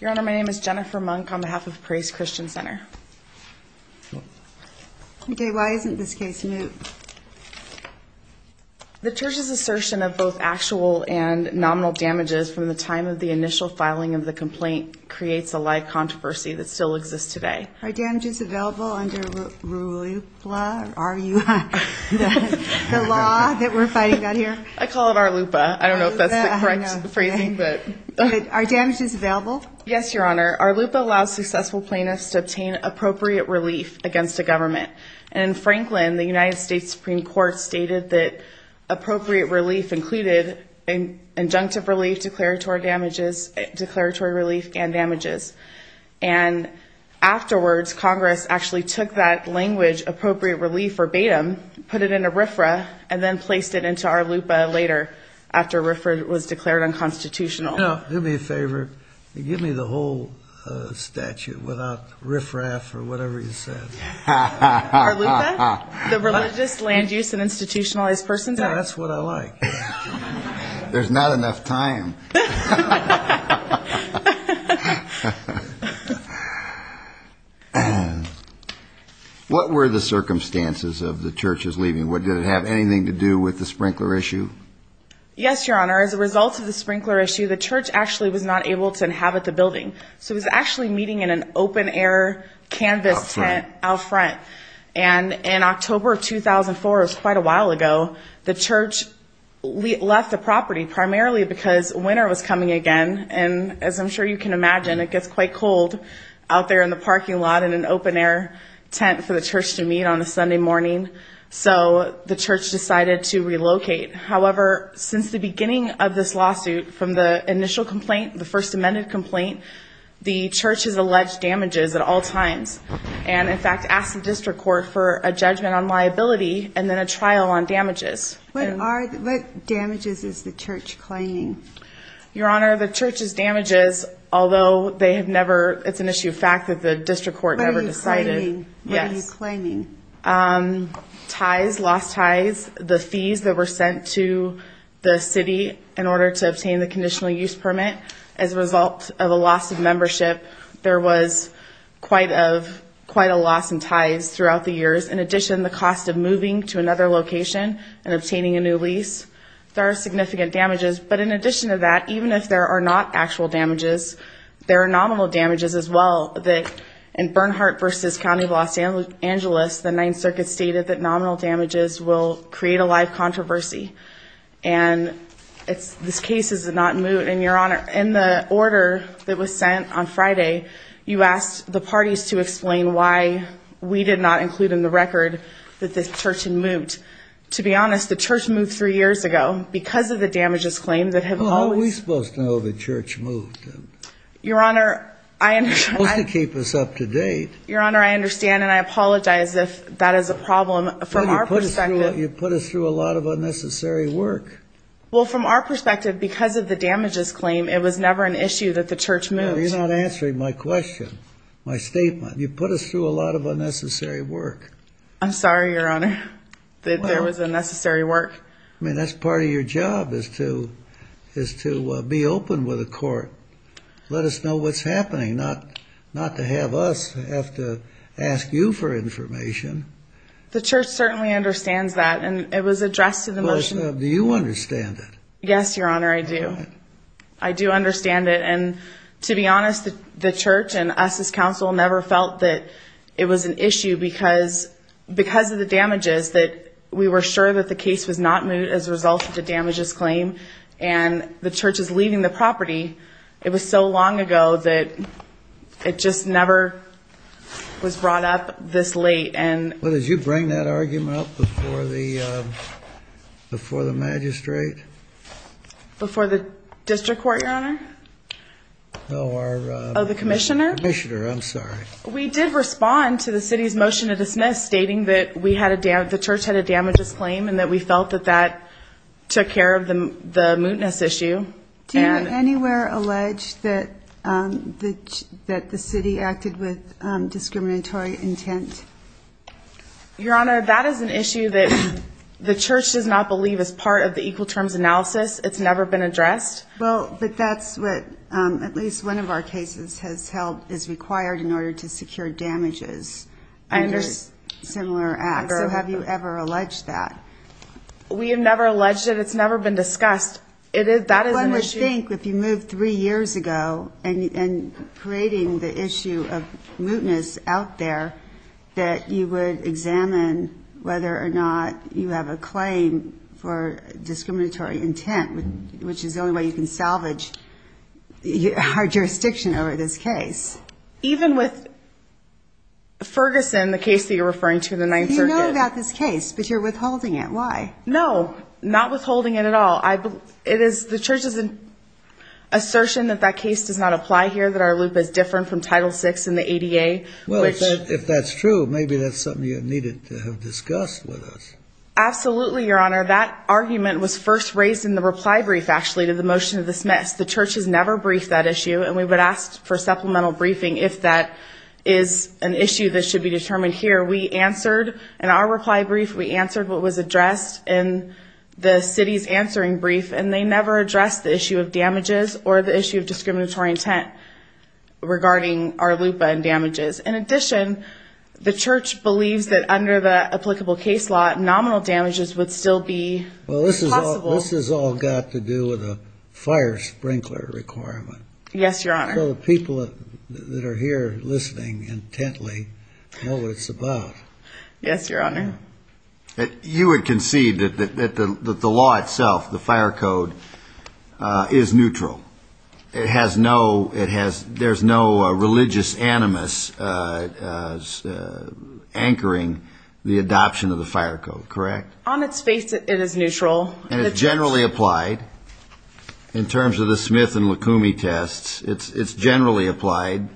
Your Honor, my name is Jennifer Monk on behalf of Praise Christian Center. Okay, why isn't this case new? The church's assertion of both actual and nominal damages from the time of the initial filing of the complaint creates a live controversy that still exists today. Are damages available under RLUPA, R-U-P-A, the law that we're fighting down here? I call it RLUPA. I don't know if that's the correct phrasing, but... Are damages available? Yes, Your Honor. RLUPA allows successful plaintiffs to obtain appropriate relief against the government. In Franklin, the United States Supreme Court stated that appropriate relief included an injunctive relief, declaratory damages, declaratory relief, and damages. And afterwards, Congress actually took that language, appropriate relief verbatim, put it in a RFRA, and then placed it into RLUPA later, after RFRA was declared unconstitutional. No, do me a favor. Give me the whole statute without RFRA for whatever you said. RLUPA? The Religious Land Use and Institutionalized Persons Act? That's what I like. There's not enough time. What were the circumstances of the church's leaving? What did it have anything to do with the sprinkler issue? Yes, Your Honor. As a result of the sprinkler issue, the church actually was not able to inhabit the building. So it was actually meeting in an open air canvas tent out front. And in October of 2004, it was quite a while ago, the church left the property primarily because winter was coming again. And as I'm sure you can imagine, it gets quite cold out there in the parking lot in an open air tent for the church to meet on a Sunday morning. So the church decided to relocate. However, since the beginning of this lawsuit, from the initial complaint, the First Amendment complaint, the church has alleged damages at all times. And in fact, asked the district court for a judgment on liability and then a trial on damages. What damages is the church claiming? Your Honor, the church's damages, although they have never, it's an issue of fact that the district court never decided. What are you claiming? Ties, lost ties, the fees that were sent to the city in order to obtain the conditional use permit. As a result of a loss of membership, there was quite a loss in ties throughout the years. In addition, the cost of moving to another location and obtaining a new lease. There are significant damages. But in addition to that, even if there are not actual damages, there are nominal damages as well. In Bernhardt versus County of Los Angeles, the Ninth Circuit stated that nominal damages will create a live controversy. And this case is not moot. And Your Honor, in the order that was sent on Friday, you asked the parties to explain why we did not include in the record that this church had moot. To be honest, the church moved three years ago because of the damages claim. How are we supposed to know the church moved? Your Honor, I understand. You're supposed to keep us up to date. Your Honor, I understand. And I apologize if that is a problem from our perspective. You put us through a lot of unnecessary work. Well, from our perspective, because of the damages claim, it was never an issue that the church moved. No, you're not answering my question, my statement. You put us through a lot of unnecessary work. I'm sorry, Your Honor, that there was unnecessary work. I mean, that's part of your job is to be open with the court. Let us know what's happening, not to have us have to ask you for information. The church certainly understands that. And it was addressed in the motion. Do you understand that? Yes, Your Honor, I do. I do understand it. And to be honest, the church and us as counsel never felt that it was an issue because of the damages that we were sure that the case was not moved as a result of the damages claim. And the church is leaving the property. It was so long ago that it just never was brought up this late. And... Well, did you bring that argument up before the magistrate? Before the district court, Your Honor? No, our... Oh, the commissioner? Commissioner, I'm sorry. We did respond to the city's motion to dismiss stating that we had a damage... The church had a damages claim and that we felt that that took care of the mootness issue. Do you have anywhere alleged that the city acted with discriminatory intent? Your Honor, that is an issue that the church does not believe is part of the equal terms analysis. It's never been addressed. Well, but that's what at least one of our cases has held is required in order to secure Have you ever alleged that? We have never alleged it. It's never been discussed. That is an issue... Well, I would think if you moved three years ago and creating the issue of mootness out there that you would examine whether or not you have a claim for discriminatory intent, which is the only way you can salvage our jurisdiction over this case. Even with Ferguson, the case that you're referring to, the 9th Circuit. You know about this case, but you're withholding it. Why? No, not withholding it at all. It is the church's assertion that that case does not apply here, that our loop is different from Title VI and the ADA. Well, if that's true, maybe that's something you needed to have discussed with us. Absolutely, Your Honor. That argument was first raised in the reply brief actually to the motion of dismiss. The church has never briefed that issue and we would ask for supplemental briefing if that is an issue that should be determined here. We answered, in our reply brief, we answered what was addressed in the city's answering brief and they never addressed the issue of damages or the issue of discriminatory intent regarding our loop and damages. In addition, the church believes that under the applicable case law, nominal damages would still be possible. Well, this has all got to do with a fire sprinkler requirement. Yes, Your Honor. So the people that are here listening intently know what it's about. Yes, Your Honor. You would concede that the law itself, the fire code, is neutral. It has no, it has, there's no religious animus anchoring the adoption of the fire code, correct? On its face, it is neutral. And it's generally applied in terms of the Smith and Lukumi tests. It's generally applied.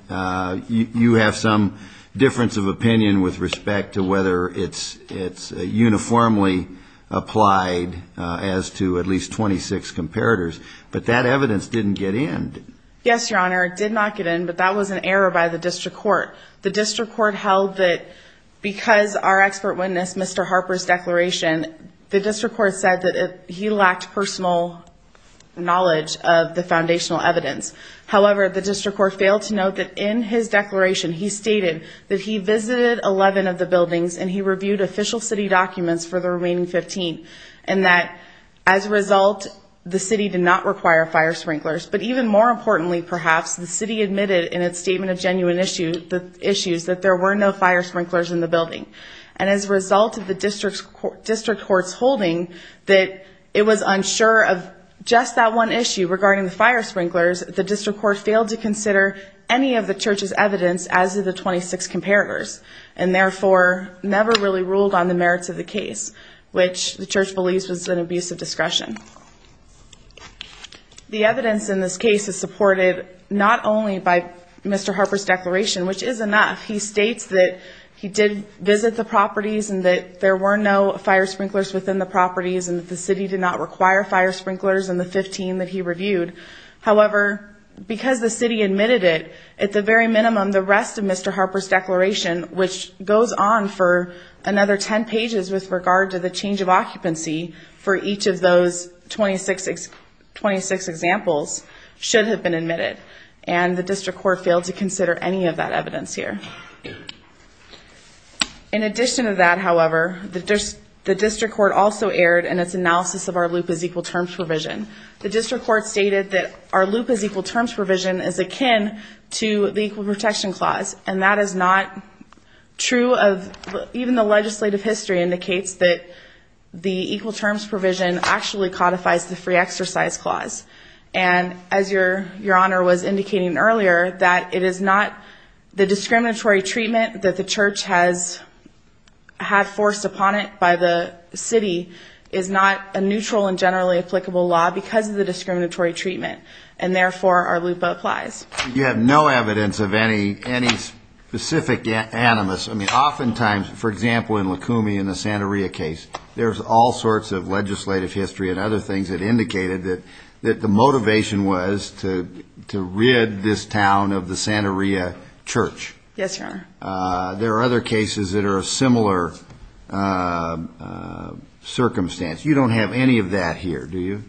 You have some difference of opinion with respect to whether it's uniformly applied as to at least 26 comparators, but that evidence didn't get in. Yes, Your Honor. It did not get in, but that was an error by the district court. The district court held that because our expert witnessed Mr. Harper's declaration, the district court said that he lacked personal knowledge of the building and failed to note that in his declaration, he stated that he visited 11 of the buildings and he reviewed official city documents for the remaining 15, and that as a result, the city did not require fire sprinklers. But even more importantly, perhaps, the city admitted in its statement of genuine issues that there were no fire sprinklers in the building. And as a result of the district court's holding that it was unsure of just that one issue regarding the fire sprinklers, the district court failed to consider any of the church's evidence as to the 26 comparators and therefore never really ruled on the merits of the case, which the church believes was an abuse of discretion. The evidence in this case is supported not only by Mr. Harper's declaration, which is enough. He states that he did visit the properties and that there were no fire sprinklers within the properties and that the city did not require fire sprinklers in the 15 that he reviewed. However, because the city admitted it, at the very minimum, the rest of Mr. Harper's declaration, which goes on for another 10 pages with regard to the change of occupancy for each of those 26 examples, should have been admitted. And the district court failed to consider any of that evidence here. In addition to that, however, the district court also erred in its analysis of that our loop is equal terms provision is akin to the equal protection clause. And that is not true of even the legislative history indicates that the equal terms provision actually codifies the free exercise clause. And as your, your honor was indicating earlier that it is not the discriminatory treatment that the church has had forced upon it by the city is not a neutral and generally applicable law because of the discriminatory treatment. And therefore our loop applies. You have no evidence of any, any specific animus. I mean, oftentimes, for example, in Lakumi in the Santa Ria case, there's all sorts of legislative history and other things that indicated that, that the motivation was to, to read this town of the Santa Ria church. Yes, sir. There are other cases that are a similar circumstance. You don't have any of that here. Do you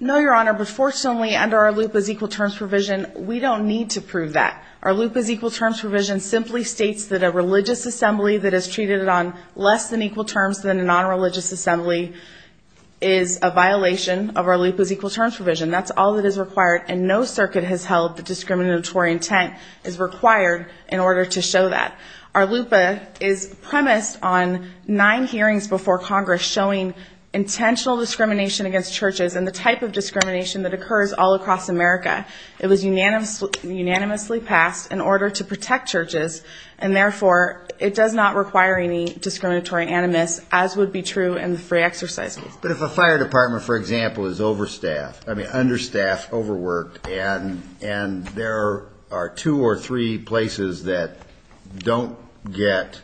know your honor? But fortunately under our loop is equal terms provision. We don't need to prove that our loop is equal terms provision simply States that a religious assembly that has treated it on less than equal terms than a non-religious assembly is a violation of our loop is equal terms provision. That's all that is required. And no circuit has held the discriminatory intent is required in order to show that our loop is premised on nine hearings before Congress showing intentional discrimination against churches and the type of discrimination that occurs all across America. It was unanimous, unanimously passed in order to protect churches. And therefore it does not require any discriminatory animus as would be true in the free exercise. But if a fire department, for example, is overstaffed, I mean, understaffed, overworked, and, and there are two or three places that don't get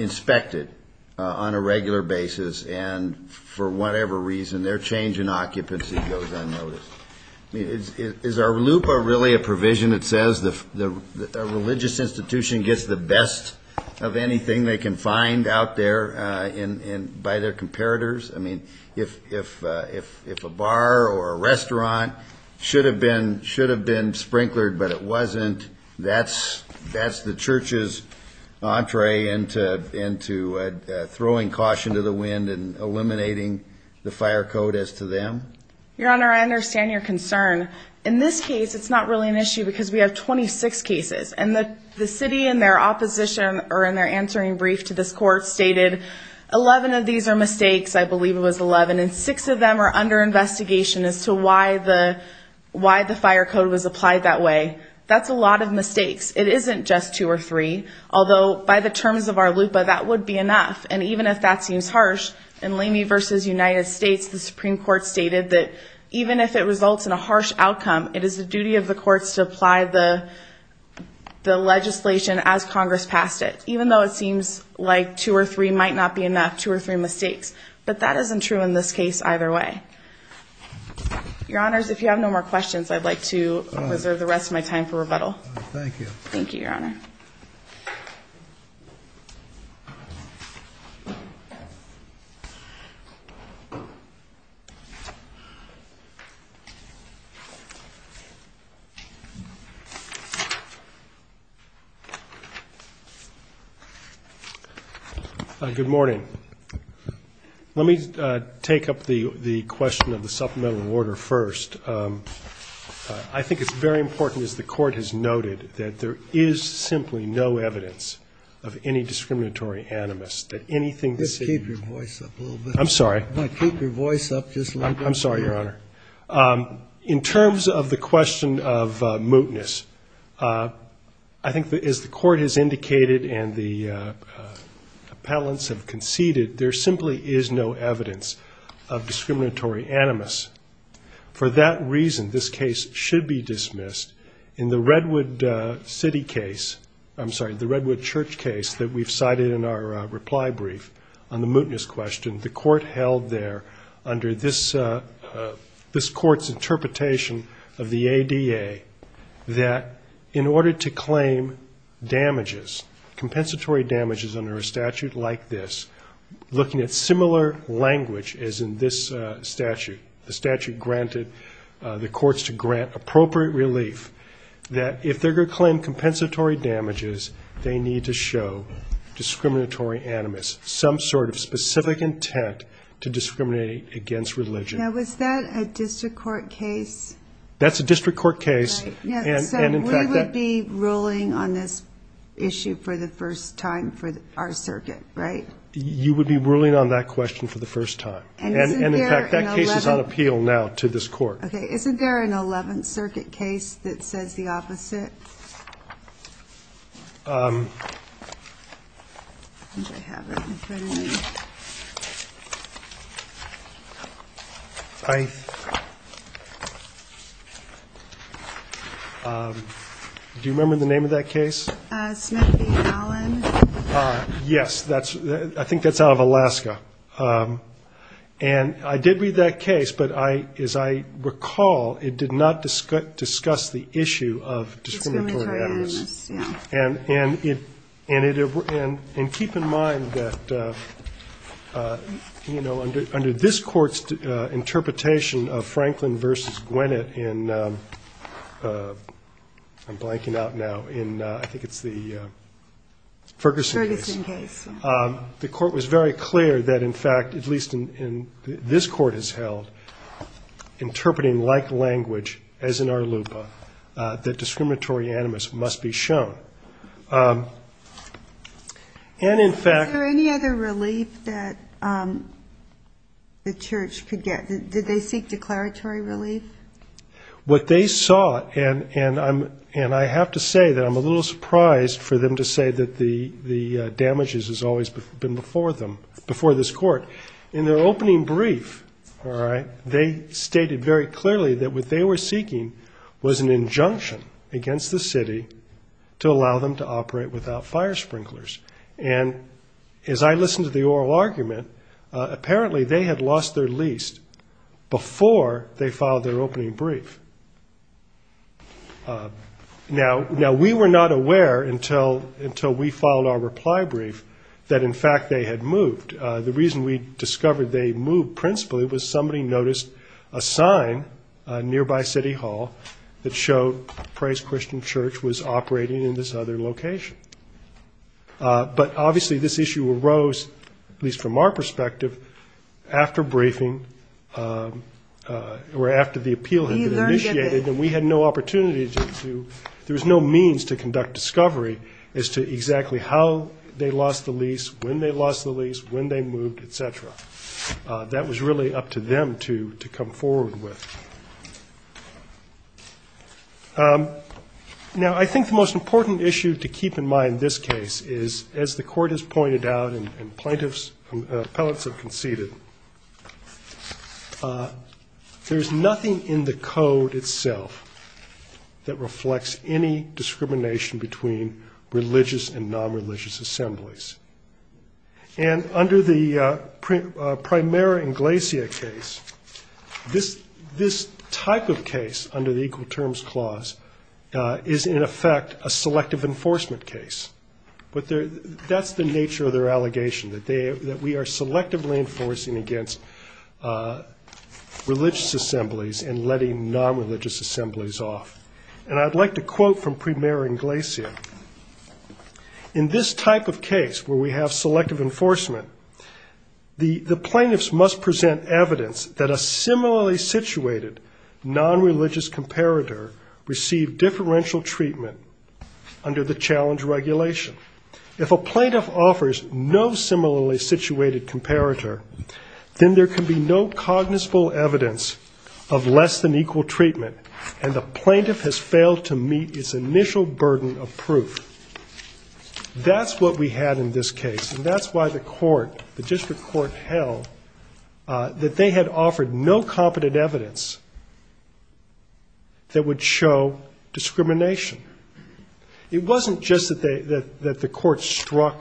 inspected on a regular basis. And for whatever reason, their change in occupancy goes unnoticed. Is our loop a really a provision that says the religious institution gets the best of anything they can find out there in by their comparators? I mean, if, if, if, if a bar or a restaurant should have been, should have been sprinklered, but it wasn't, that's, that's the church's entree into, into throwing caution to the wind and eliminating the fire code as to them? Your Honor, I understand your concern. In this case, it's not really an issue because we have 26 cases and the, the city in their opposition or in their answering brief to this court stated 11 of these are mistakes. I believe it was 11 and six of them are under investigation as to why the, why the fire code was applied that way. That's a lot of mistakes. It isn't just two or three, although by the And even if that seems harsh in Lamy versus United States, the Supreme Court stated that even if it results in a harsh outcome, it is the duty of the courts to apply the, the legislation as Congress passed it, even though it seems like two or three might not be enough, two or three mistakes, but that isn't true in this case either way. Your Honors, if you have no more questions, I'd like to reserve the rest Good morning. Let me take up the, the question of the supplemental order first. I think it's very important as the court has noted that there is simply no evidence of any discriminatory animus that anything, I'm sorry, keep your voice up. I'm sorry, Your Honor. In terms of the question of mootness, I think that as the court has indicated and the appellants have conceded, there simply is no evidence of discriminatory animus. For that reason, this case should be dismissed in the Redwood city case. I'm sorry, the Redwood church case that we've cited in our reply brief on the mootness question, the court held there under this, this court's interpretation of the ADA that in order to claim damages, compensatory damages under a statute like this, looking at similar language as in this statute, the statute granted the courts to grant appropriate relief that if they're going to claim compensatory damages, they need to show discriminatory animus, some sort of specific intent to discriminate against religion. Now, was that a district court case? That's a district court case. And we would be ruling on this issue for the first time for our circuit, right? You would be ruling on that question for the first time. And in fact, that case is on appeal now to this court. Okay. Isn't there an 11th circuit case that says the opposite? Do you remember the name of that case? Yes, that's, I think that's out of Alaska. And I did read that case, but I, as I recall, it did not discuss the issue of discriminatory animus. And, and it, and it, and, and keep in mind that, you know, under, under this court's interpretation of Franklin versus Gwinnett in, I'm blanking out now in, I think it's the Ferguson case, the court was very clear that in fact, at least in this court has held, interpreting like language as in our LUPA, that discriminatory animus must be shown. And in fact... Is there any other relief that the church could get? Did they seek declaratory relief? What they saw, and, and I'm, and I have to say that I'm a little surprised for them to say that the, the damages has always been before them, before this court. In their opening brief, all right, they stated very clearly that what they were seeking was an injunction against the city to allow them to operate without fire sprinklers. And as I listened to the oral argument, apparently they had lost their lease before they filed their opening brief. Now, now we were not aware until, until we filed our reply brief that in fact they had moved. The reason we discovered they moved principally was somebody noticed a sign nearby city hall that showed Praise Christian Church was operating in this other location. But obviously this issue arose, at least from our perspective, after briefing, or after the appeal had been initiated and we had no opportunity to, there was no means to conduct discovery as to exactly how they lost the lease, when they moved, et cetera. That was really up to them to, to come forward with. Now, I think the most important issue to keep in mind this case is as the court has pointed out and plaintiffs, appellates have conceded, there's nothing in the code itself that reflects any discrimination between religious and non-religious assemblies. And under the Primera Inglesia case, this, this type of case under the Equal Terms Clause is in effect a selective enforcement case, but that's the nature of their allegation, that they, that we are selectively enforcing against religious assemblies and letting non-religious assemblies off. And I'd like to quote from Primera Inglesia. In this type of case where we have selective enforcement, the plaintiffs must present evidence that a similarly situated non-religious comparator received differential treatment under the challenge regulation. If a plaintiff offers no similarly situated comparator, then there can be no cognizable evidence of less than equal treatment and the plaintiff has failed to meet its initial burden of proof. That's what we had in this case, and that's why the court, the district court held that they had offered no competent evidence that would show discrimination. It wasn't just that they, that, that the court struck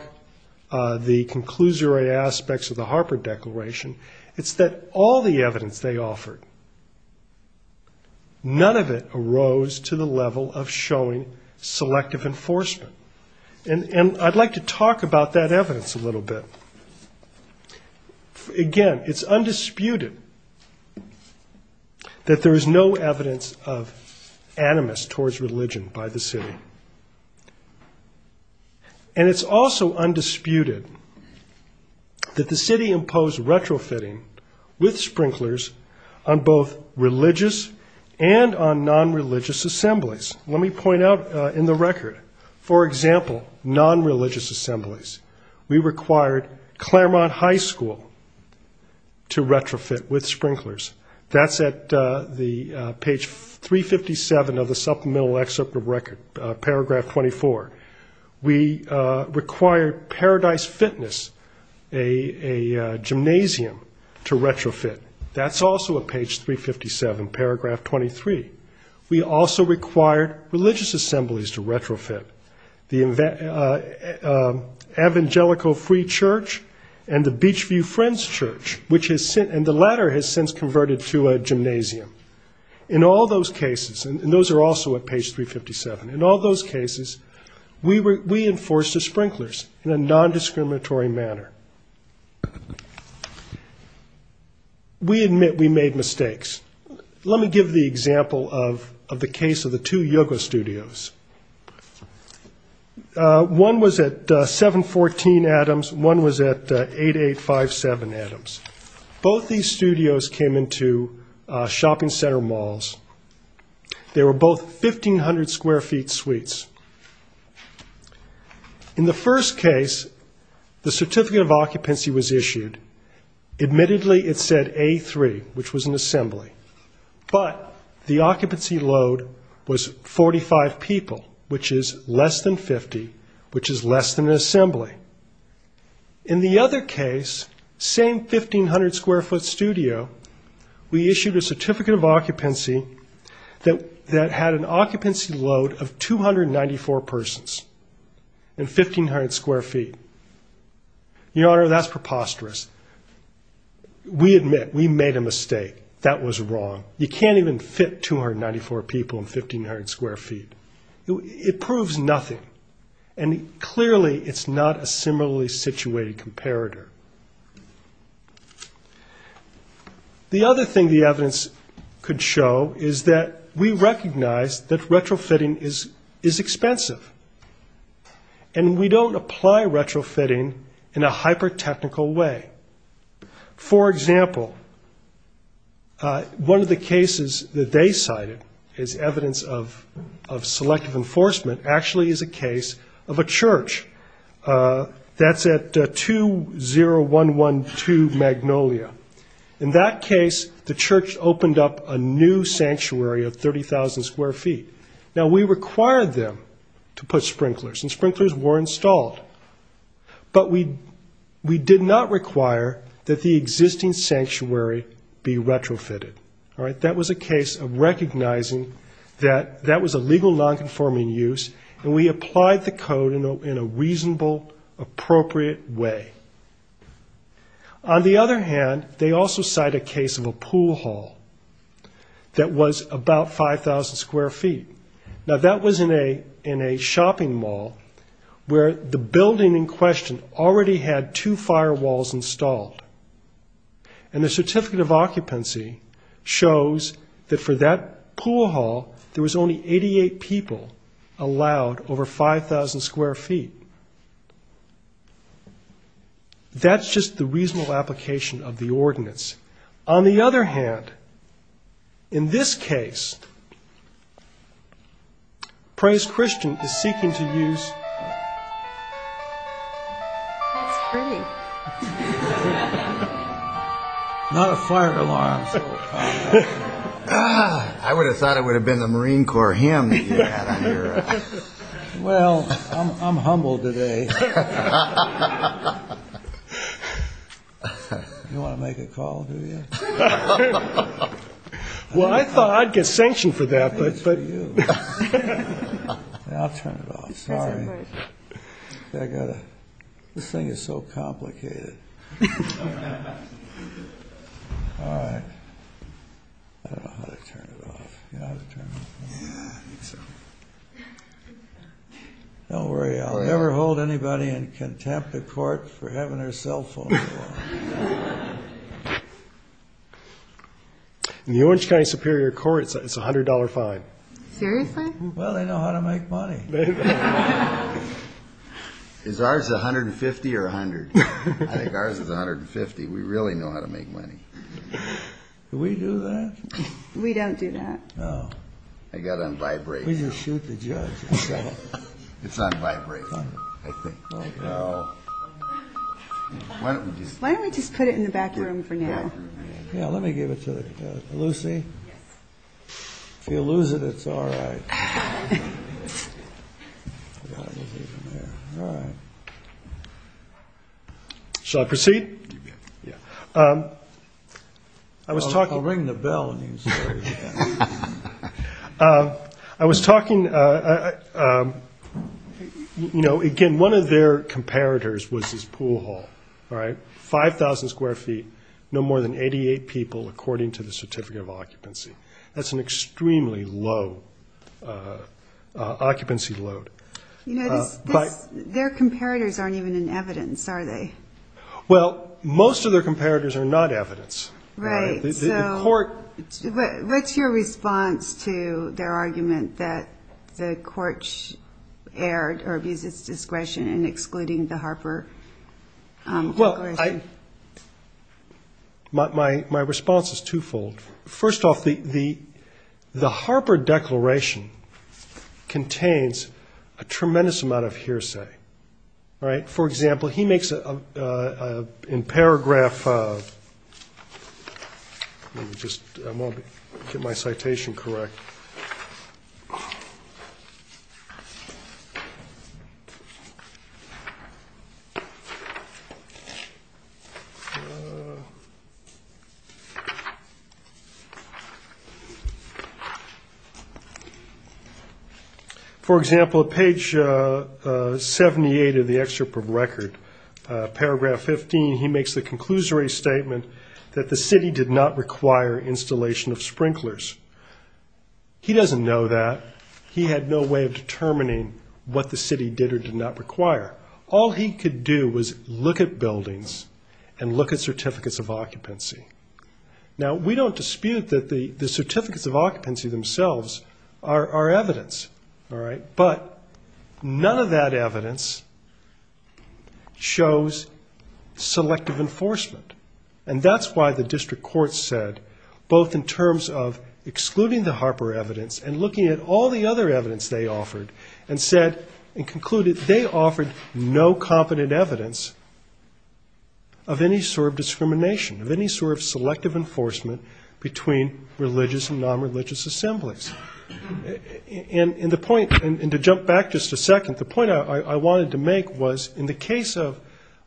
the conclusory aspects of the Harper Declaration, it's that all the evidence they offered, none of it arose to the level of showing selective enforcement. And I'd like to talk about that evidence a little bit. Again, it's undisputed that there is no evidence of animus towards religion by the city. And it's also undisputed that the city imposed retrofitting with sprinklers on both religious and on non-religious assemblies. Let me point out in the record, for example, non-religious assemblies, we required Claremont High School to retrofit with sprinklers. That's at the page 357 of the supplemental excerpt of record, paragraph 24. We required Paradise Fitness, a gymnasium, to retrofit. That's also at page 357, paragraph 23. We also required religious assemblies to retrofit. The Evangelical Free Church and the Beach View Friends Church, which has since, and the latter has since converted to a gymnasium. In all those cases, and those are also at page 357, in all those cases, we were, we enforced the sprinklers in a non-discriminatory manner. We admit we made mistakes. Let me give the example of the case of the two yoga studios. One was at 714 Adams. One was at 8857 Adams. Both these studios came into shopping center malls. They were both 1,500 square feet suites. In the first case, the certificate of occupancy was issued. Admittedly, it said A3, which was an assembly, but the occupancy load was 45 people, which is less than 50, which is less than an assembly. In the other case, same 1,500 square foot studio, we issued a certificate of occupancy that had an occupancy load of 294 persons and 1,500 square feet. Your Honor, that's preposterous. We admit we made a mistake. That was wrong. You can't even fit 294 people in 1,500 square feet. It proves nothing, and clearly it's not a similarly situated comparator. The other thing the evidence could show is that we recognize that retrofitting is expensive. And we don't apply retrofitting in a hyper-technical way. For example, one of the cases that they cited as evidence of selective enforcement actually is a case of a church that's at 20112 Magnolia. In that case, the church opened up a new sanctuary of 30,000 square feet. Now, we required them to put sprinklers, and sprinklers were installed, but we did not require that the existing sanctuary be retrofitted. All right, that was a case of recognizing that that was a legal nonconforming use, and we applied the code in a reasonable, appropriate way. On the other hand, they also cite a case of a pool hall that was about 5,000 square feet. Now, that was in a shopping mall where the building in question already had two firewalls installed, and the certificate of occupancy shows that for that pool hall, there was only 88 people allowed over 5,000 square feet. That's just the reasonable application of the ordinance. On the other hand, in this case, Praise Christian is seeking to use... That's pretty. Not a fire alarm. I would have thought it would have been the Marine Corps hymn that you had on your... Well, I'm humble today. You want to make a call, do you? Well, I thought I'd get sanctioned for that, but... I'll turn it off. Sorry. I got to... This thing is so complicated. All right. I don't know how to turn it off. You know how to turn it off? Don't worry. I'll never hold anybody in contempt of court for having their cell phone on. In the Orange County Superior Court, it's a $100 fine. Seriously? Well, they know how to make money. Is ours $150 or $100? I think ours is $150. We really know how to make money. Do we do that? We don't do that. No. I got on vibrate. We just shoot the judge. It's on vibrate, I think. Why don't we just put it in the back room for now? Yeah, let me give it to Lucy. If you lose it, it's all right. Shall I proceed? I was talking... I'll ring the bell. I was talking... Again, one of their comparators was this pool hall. All right, 5,000 square feet, no more than 88 people, according to the certificate of occupancy. That's an extremely low occupancy load. You know, their comparators aren't even in evidence, are they? Well, most of their comparators are not evidence. Right. So what's your response to their argument that the church erred or abused its discretion in excluding the Harper Declaration? My response is twofold. First off, the Harper Declaration contains a tremendous amount of hearsay. Right? For example, he makes, in paragraph... Let me just get my citation correct. For example, at page 78 of the excerpt of record, paragraph 15, he makes the conclusory statement that the city did not require installation of sprinklers. He doesn't know that. He had no way of determining what the city did or did not require. All he could do was look at buildings and look at certificates of occupancy. Now, we don't dispute that the certificates of occupancy themselves are evidence. All right, but none of that evidence shows selective enforcement. And that's why the district court said, both in terms of all the other evidence they offered, and concluded they offered no competent evidence of any sort of discrimination, of any sort of selective enforcement between religious and non-religious assemblies. And to jump back just a second, the point I wanted to make was, in the case of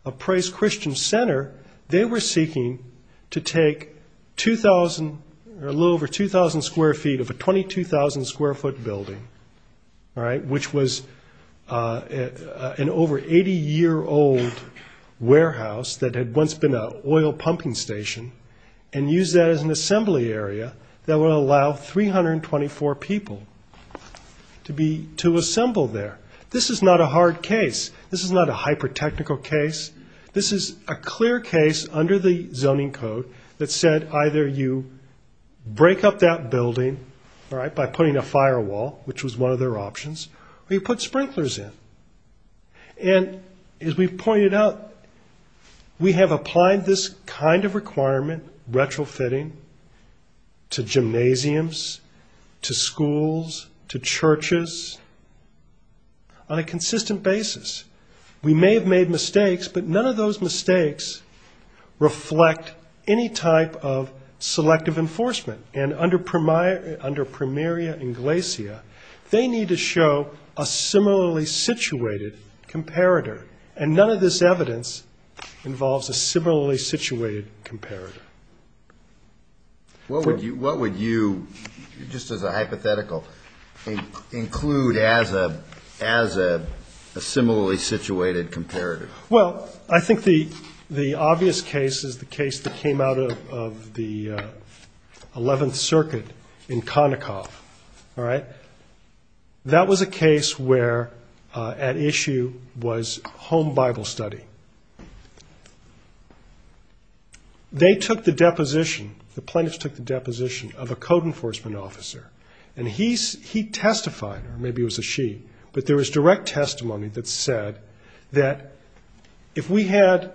a Praise Christian Center, they were seeking to take a little over 2,000 square feet of a 22,000 square foot building, which was an over 80-year-old warehouse that had once been an oil pumping station, and use that as an assembly area that would allow 324 people to assemble there. This is not a hard case. This is not a hyper-technical case. This is a clear case under the zoning code that said either you break up that building, all right, by putting a firewall, which was one of their options, or you put sprinklers in. And as we've pointed out, we have applied this kind of requirement, retrofitting, to gymnasiums, to schools, to churches, on a consistent basis. We may have made mistakes, but none of those mistakes reflect any type of selective enforcement. And under primaria inglesia, they need to show a similarly situated comparator. And none of this evidence involves a similarly situated comparator. What would you, just as a hypothetical, include as a similarly situated comparator? Well, I think the obvious case is the case that came out of the 11th Circuit in Konikov, all right? That was a case where at issue was home Bible study. They took the deposition, the plaintiffs took the deposition of a code enforcement officer, and he testified, or maybe it was a she, but there was direct testimony that said that if we had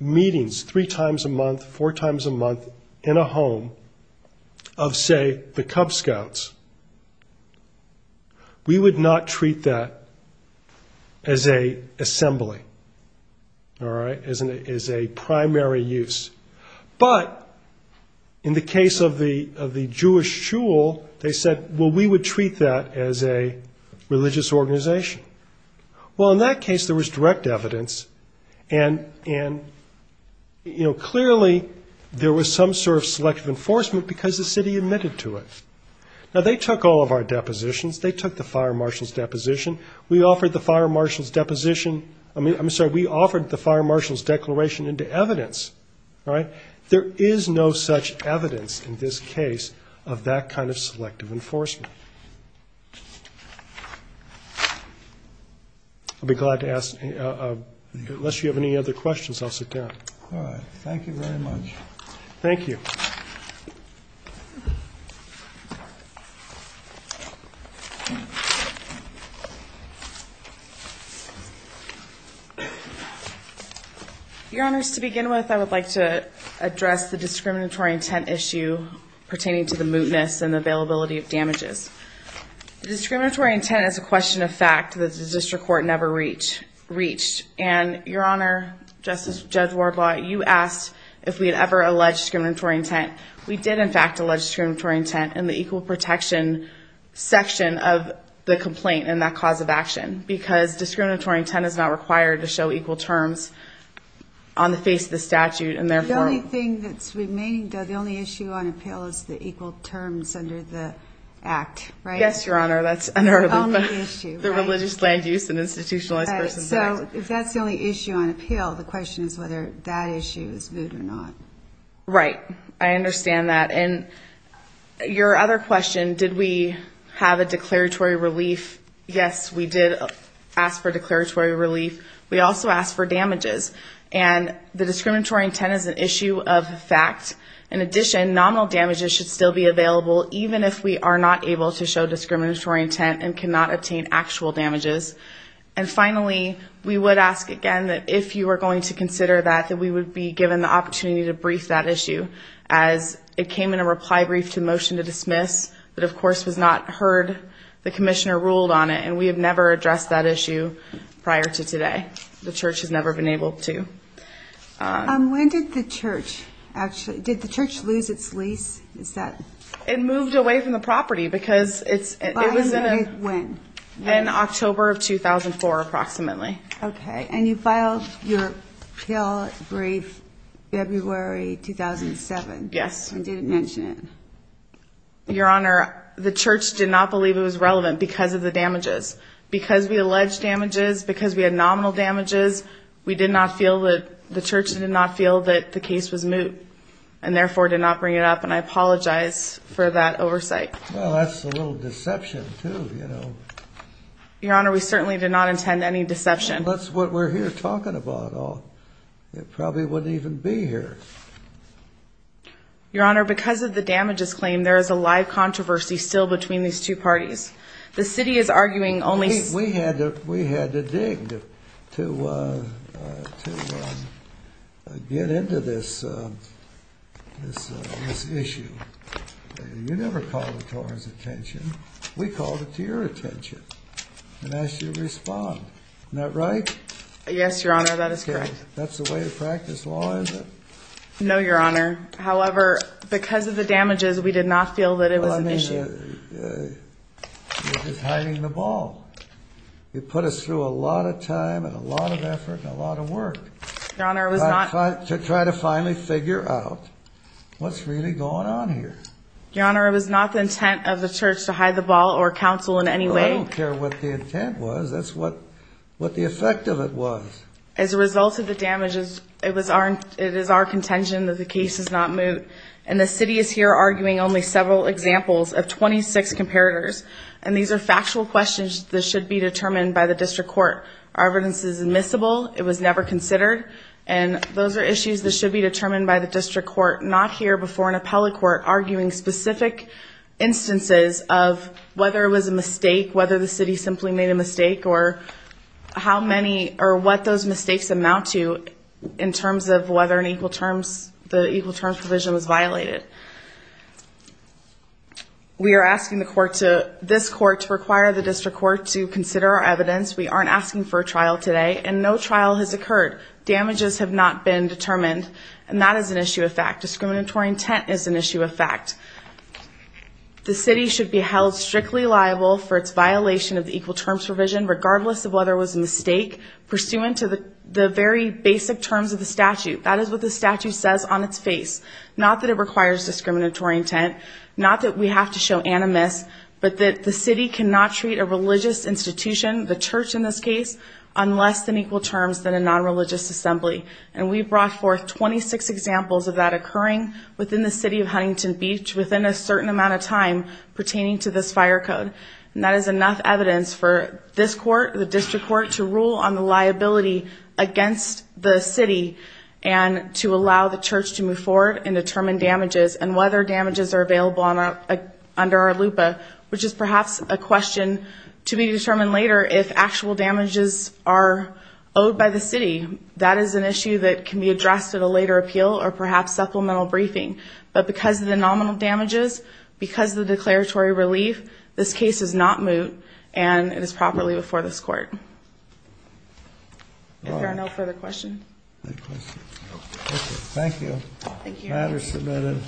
meetings three times a month, four times a month in a home of, say, the Cub Scouts, we would not treat that as a assembly, all right, as a primary use. But in the case of the Jewish Jewel, they said, well, we would treat that as a religious organization. Well, in that case, there was direct evidence and, you know, clearly there was some sort of selective enforcement because the city admitted to it. Now, they took all of our depositions. They took the fire marshal's deposition. We offered the fire marshal's deposition. I mean, I'm sorry, we offered the fire marshal's declaration into evidence, all right? There is no such evidence in this case of that kind of selective enforcement. I'll be glad to ask, unless you have any other questions, I'll sit down. All right. Thank you very much. Thank you. Your Honors, to begin with, I would like to address the discriminatory intent issue pertaining to the mootness and the availability of damages. The discriminatory intent is a question of fact that the district court never reached, and Your Honor, Justice, Judge Wardlaw, you asked if we had ever alleged discriminatory intent. We did, in fact, allege discriminatory intent in the equal protection section of the complaint and that cause of action because discriminatory intent is not required to show equal terms on the face of the statute. And therefore- The only thing that's remaining, though, the only issue on the act, right? Yes, Your Honor. That's the only issue. The Religious Land Use and Institutionalized Persons Act. So if that's the only issue on appeal, the question is whether that issue is moot or not. Right. I understand that. And your other question, did we have a declaratory relief? Yes, we did ask for declaratory relief. We also asked for damages. And the discriminatory intent is an issue of fact. In addition, nominal damages should still be available even if we are not able to show discriminatory intent and cannot obtain actual damages. And finally, we would ask again that if you are going to consider that, that we would be given the opportunity to brief that issue as it came in a reply brief to motion to dismiss, but of course was not heard. The commissioner ruled on it and we have never addressed that issue prior to today. The church has never been able to. When did the church actually, did the church lose its lease? Is that- It moved away from the property because it was in October of 2004 approximately. Okay. And you filed your appeal brief February 2007. Yes. And didn't mention it. Your Honor, the church did not believe it was relevant because of the damages. Because we alleged damages, because we had nominal damages, we did not feel that, the church did not feel that the case was moot and therefore did not bring it up. And I apologize for that oversight. Well, that's a little deception too, you know. Your Honor, we certainly did not intend any deception. That's what we're here talking about. It probably wouldn't even be here. Your Honor, because of the damages claim, there is a live controversy still between these two parties. The city is arguing only- We had to dig to get into this issue. You never called it to our attention. We called it to your attention and asked you to respond. Isn't that right? Yes, Your Honor. That is correct. That's the way to practice law, is it? No, Your Honor. However, because of the damages, we did not feel that it was an issue. You're just hiding the ball. You put us through a lot of time and a lot of effort and a lot of work to try to finally figure out what's really going on here. Your Honor, it was not the intent of the church to hide the ball or counsel in any way. I don't care what the intent was. That's what the effect of it was. As a result of the damages, it is our contention that the case is not moot and the city is here arguing only several examples of 26 comparators. These are factual questions that should be determined by the district court. Our evidence is admissible. It was never considered. Those are issues that should be determined by the district court, not here before an appellate court, arguing specific instances of whether it was a mistake, whether the city simply made a mistake, or what those mistakes amount to in terms of whether the equal terms provision was violated. We are asking this court to require the district court to consider our evidence. We aren't asking for a trial today, and no trial has occurred. Damages have not been determined, and that is an issue of fact. Discriminatory intent is an issue of fact. The city should be held strictly liable for its violation of the equal terms provision, regardless of whether it was a mistake, pursuant to the very basic terms of the statute. That is what the statute says on its face. Not that it requires discriminatory intent. Not that we have to show animus, but that the city cannot treat a religious institution, the church in this case, on less than equal terms than a non-religious assembly. And we brought forth 26 examples of that occurring within the city of Huntington Beach, within a certain amount of time, pertaining to this fire code. And that is enough evidence for this court, the district court, to rule on the liability against the city, and to move forward and determine damages, and whether damages are available under our LUPA, which is perhaps a question to be determined later. If actual damages are owed by the city, that is an issue that can be addressed at a later appeal, or perhaps supplemental briefing. But because of the nominal damages, because of the declaratory relief, this case is not moot, and it is properly before this court. If there are no further questions. Thank you. Thank you. Matters submitted.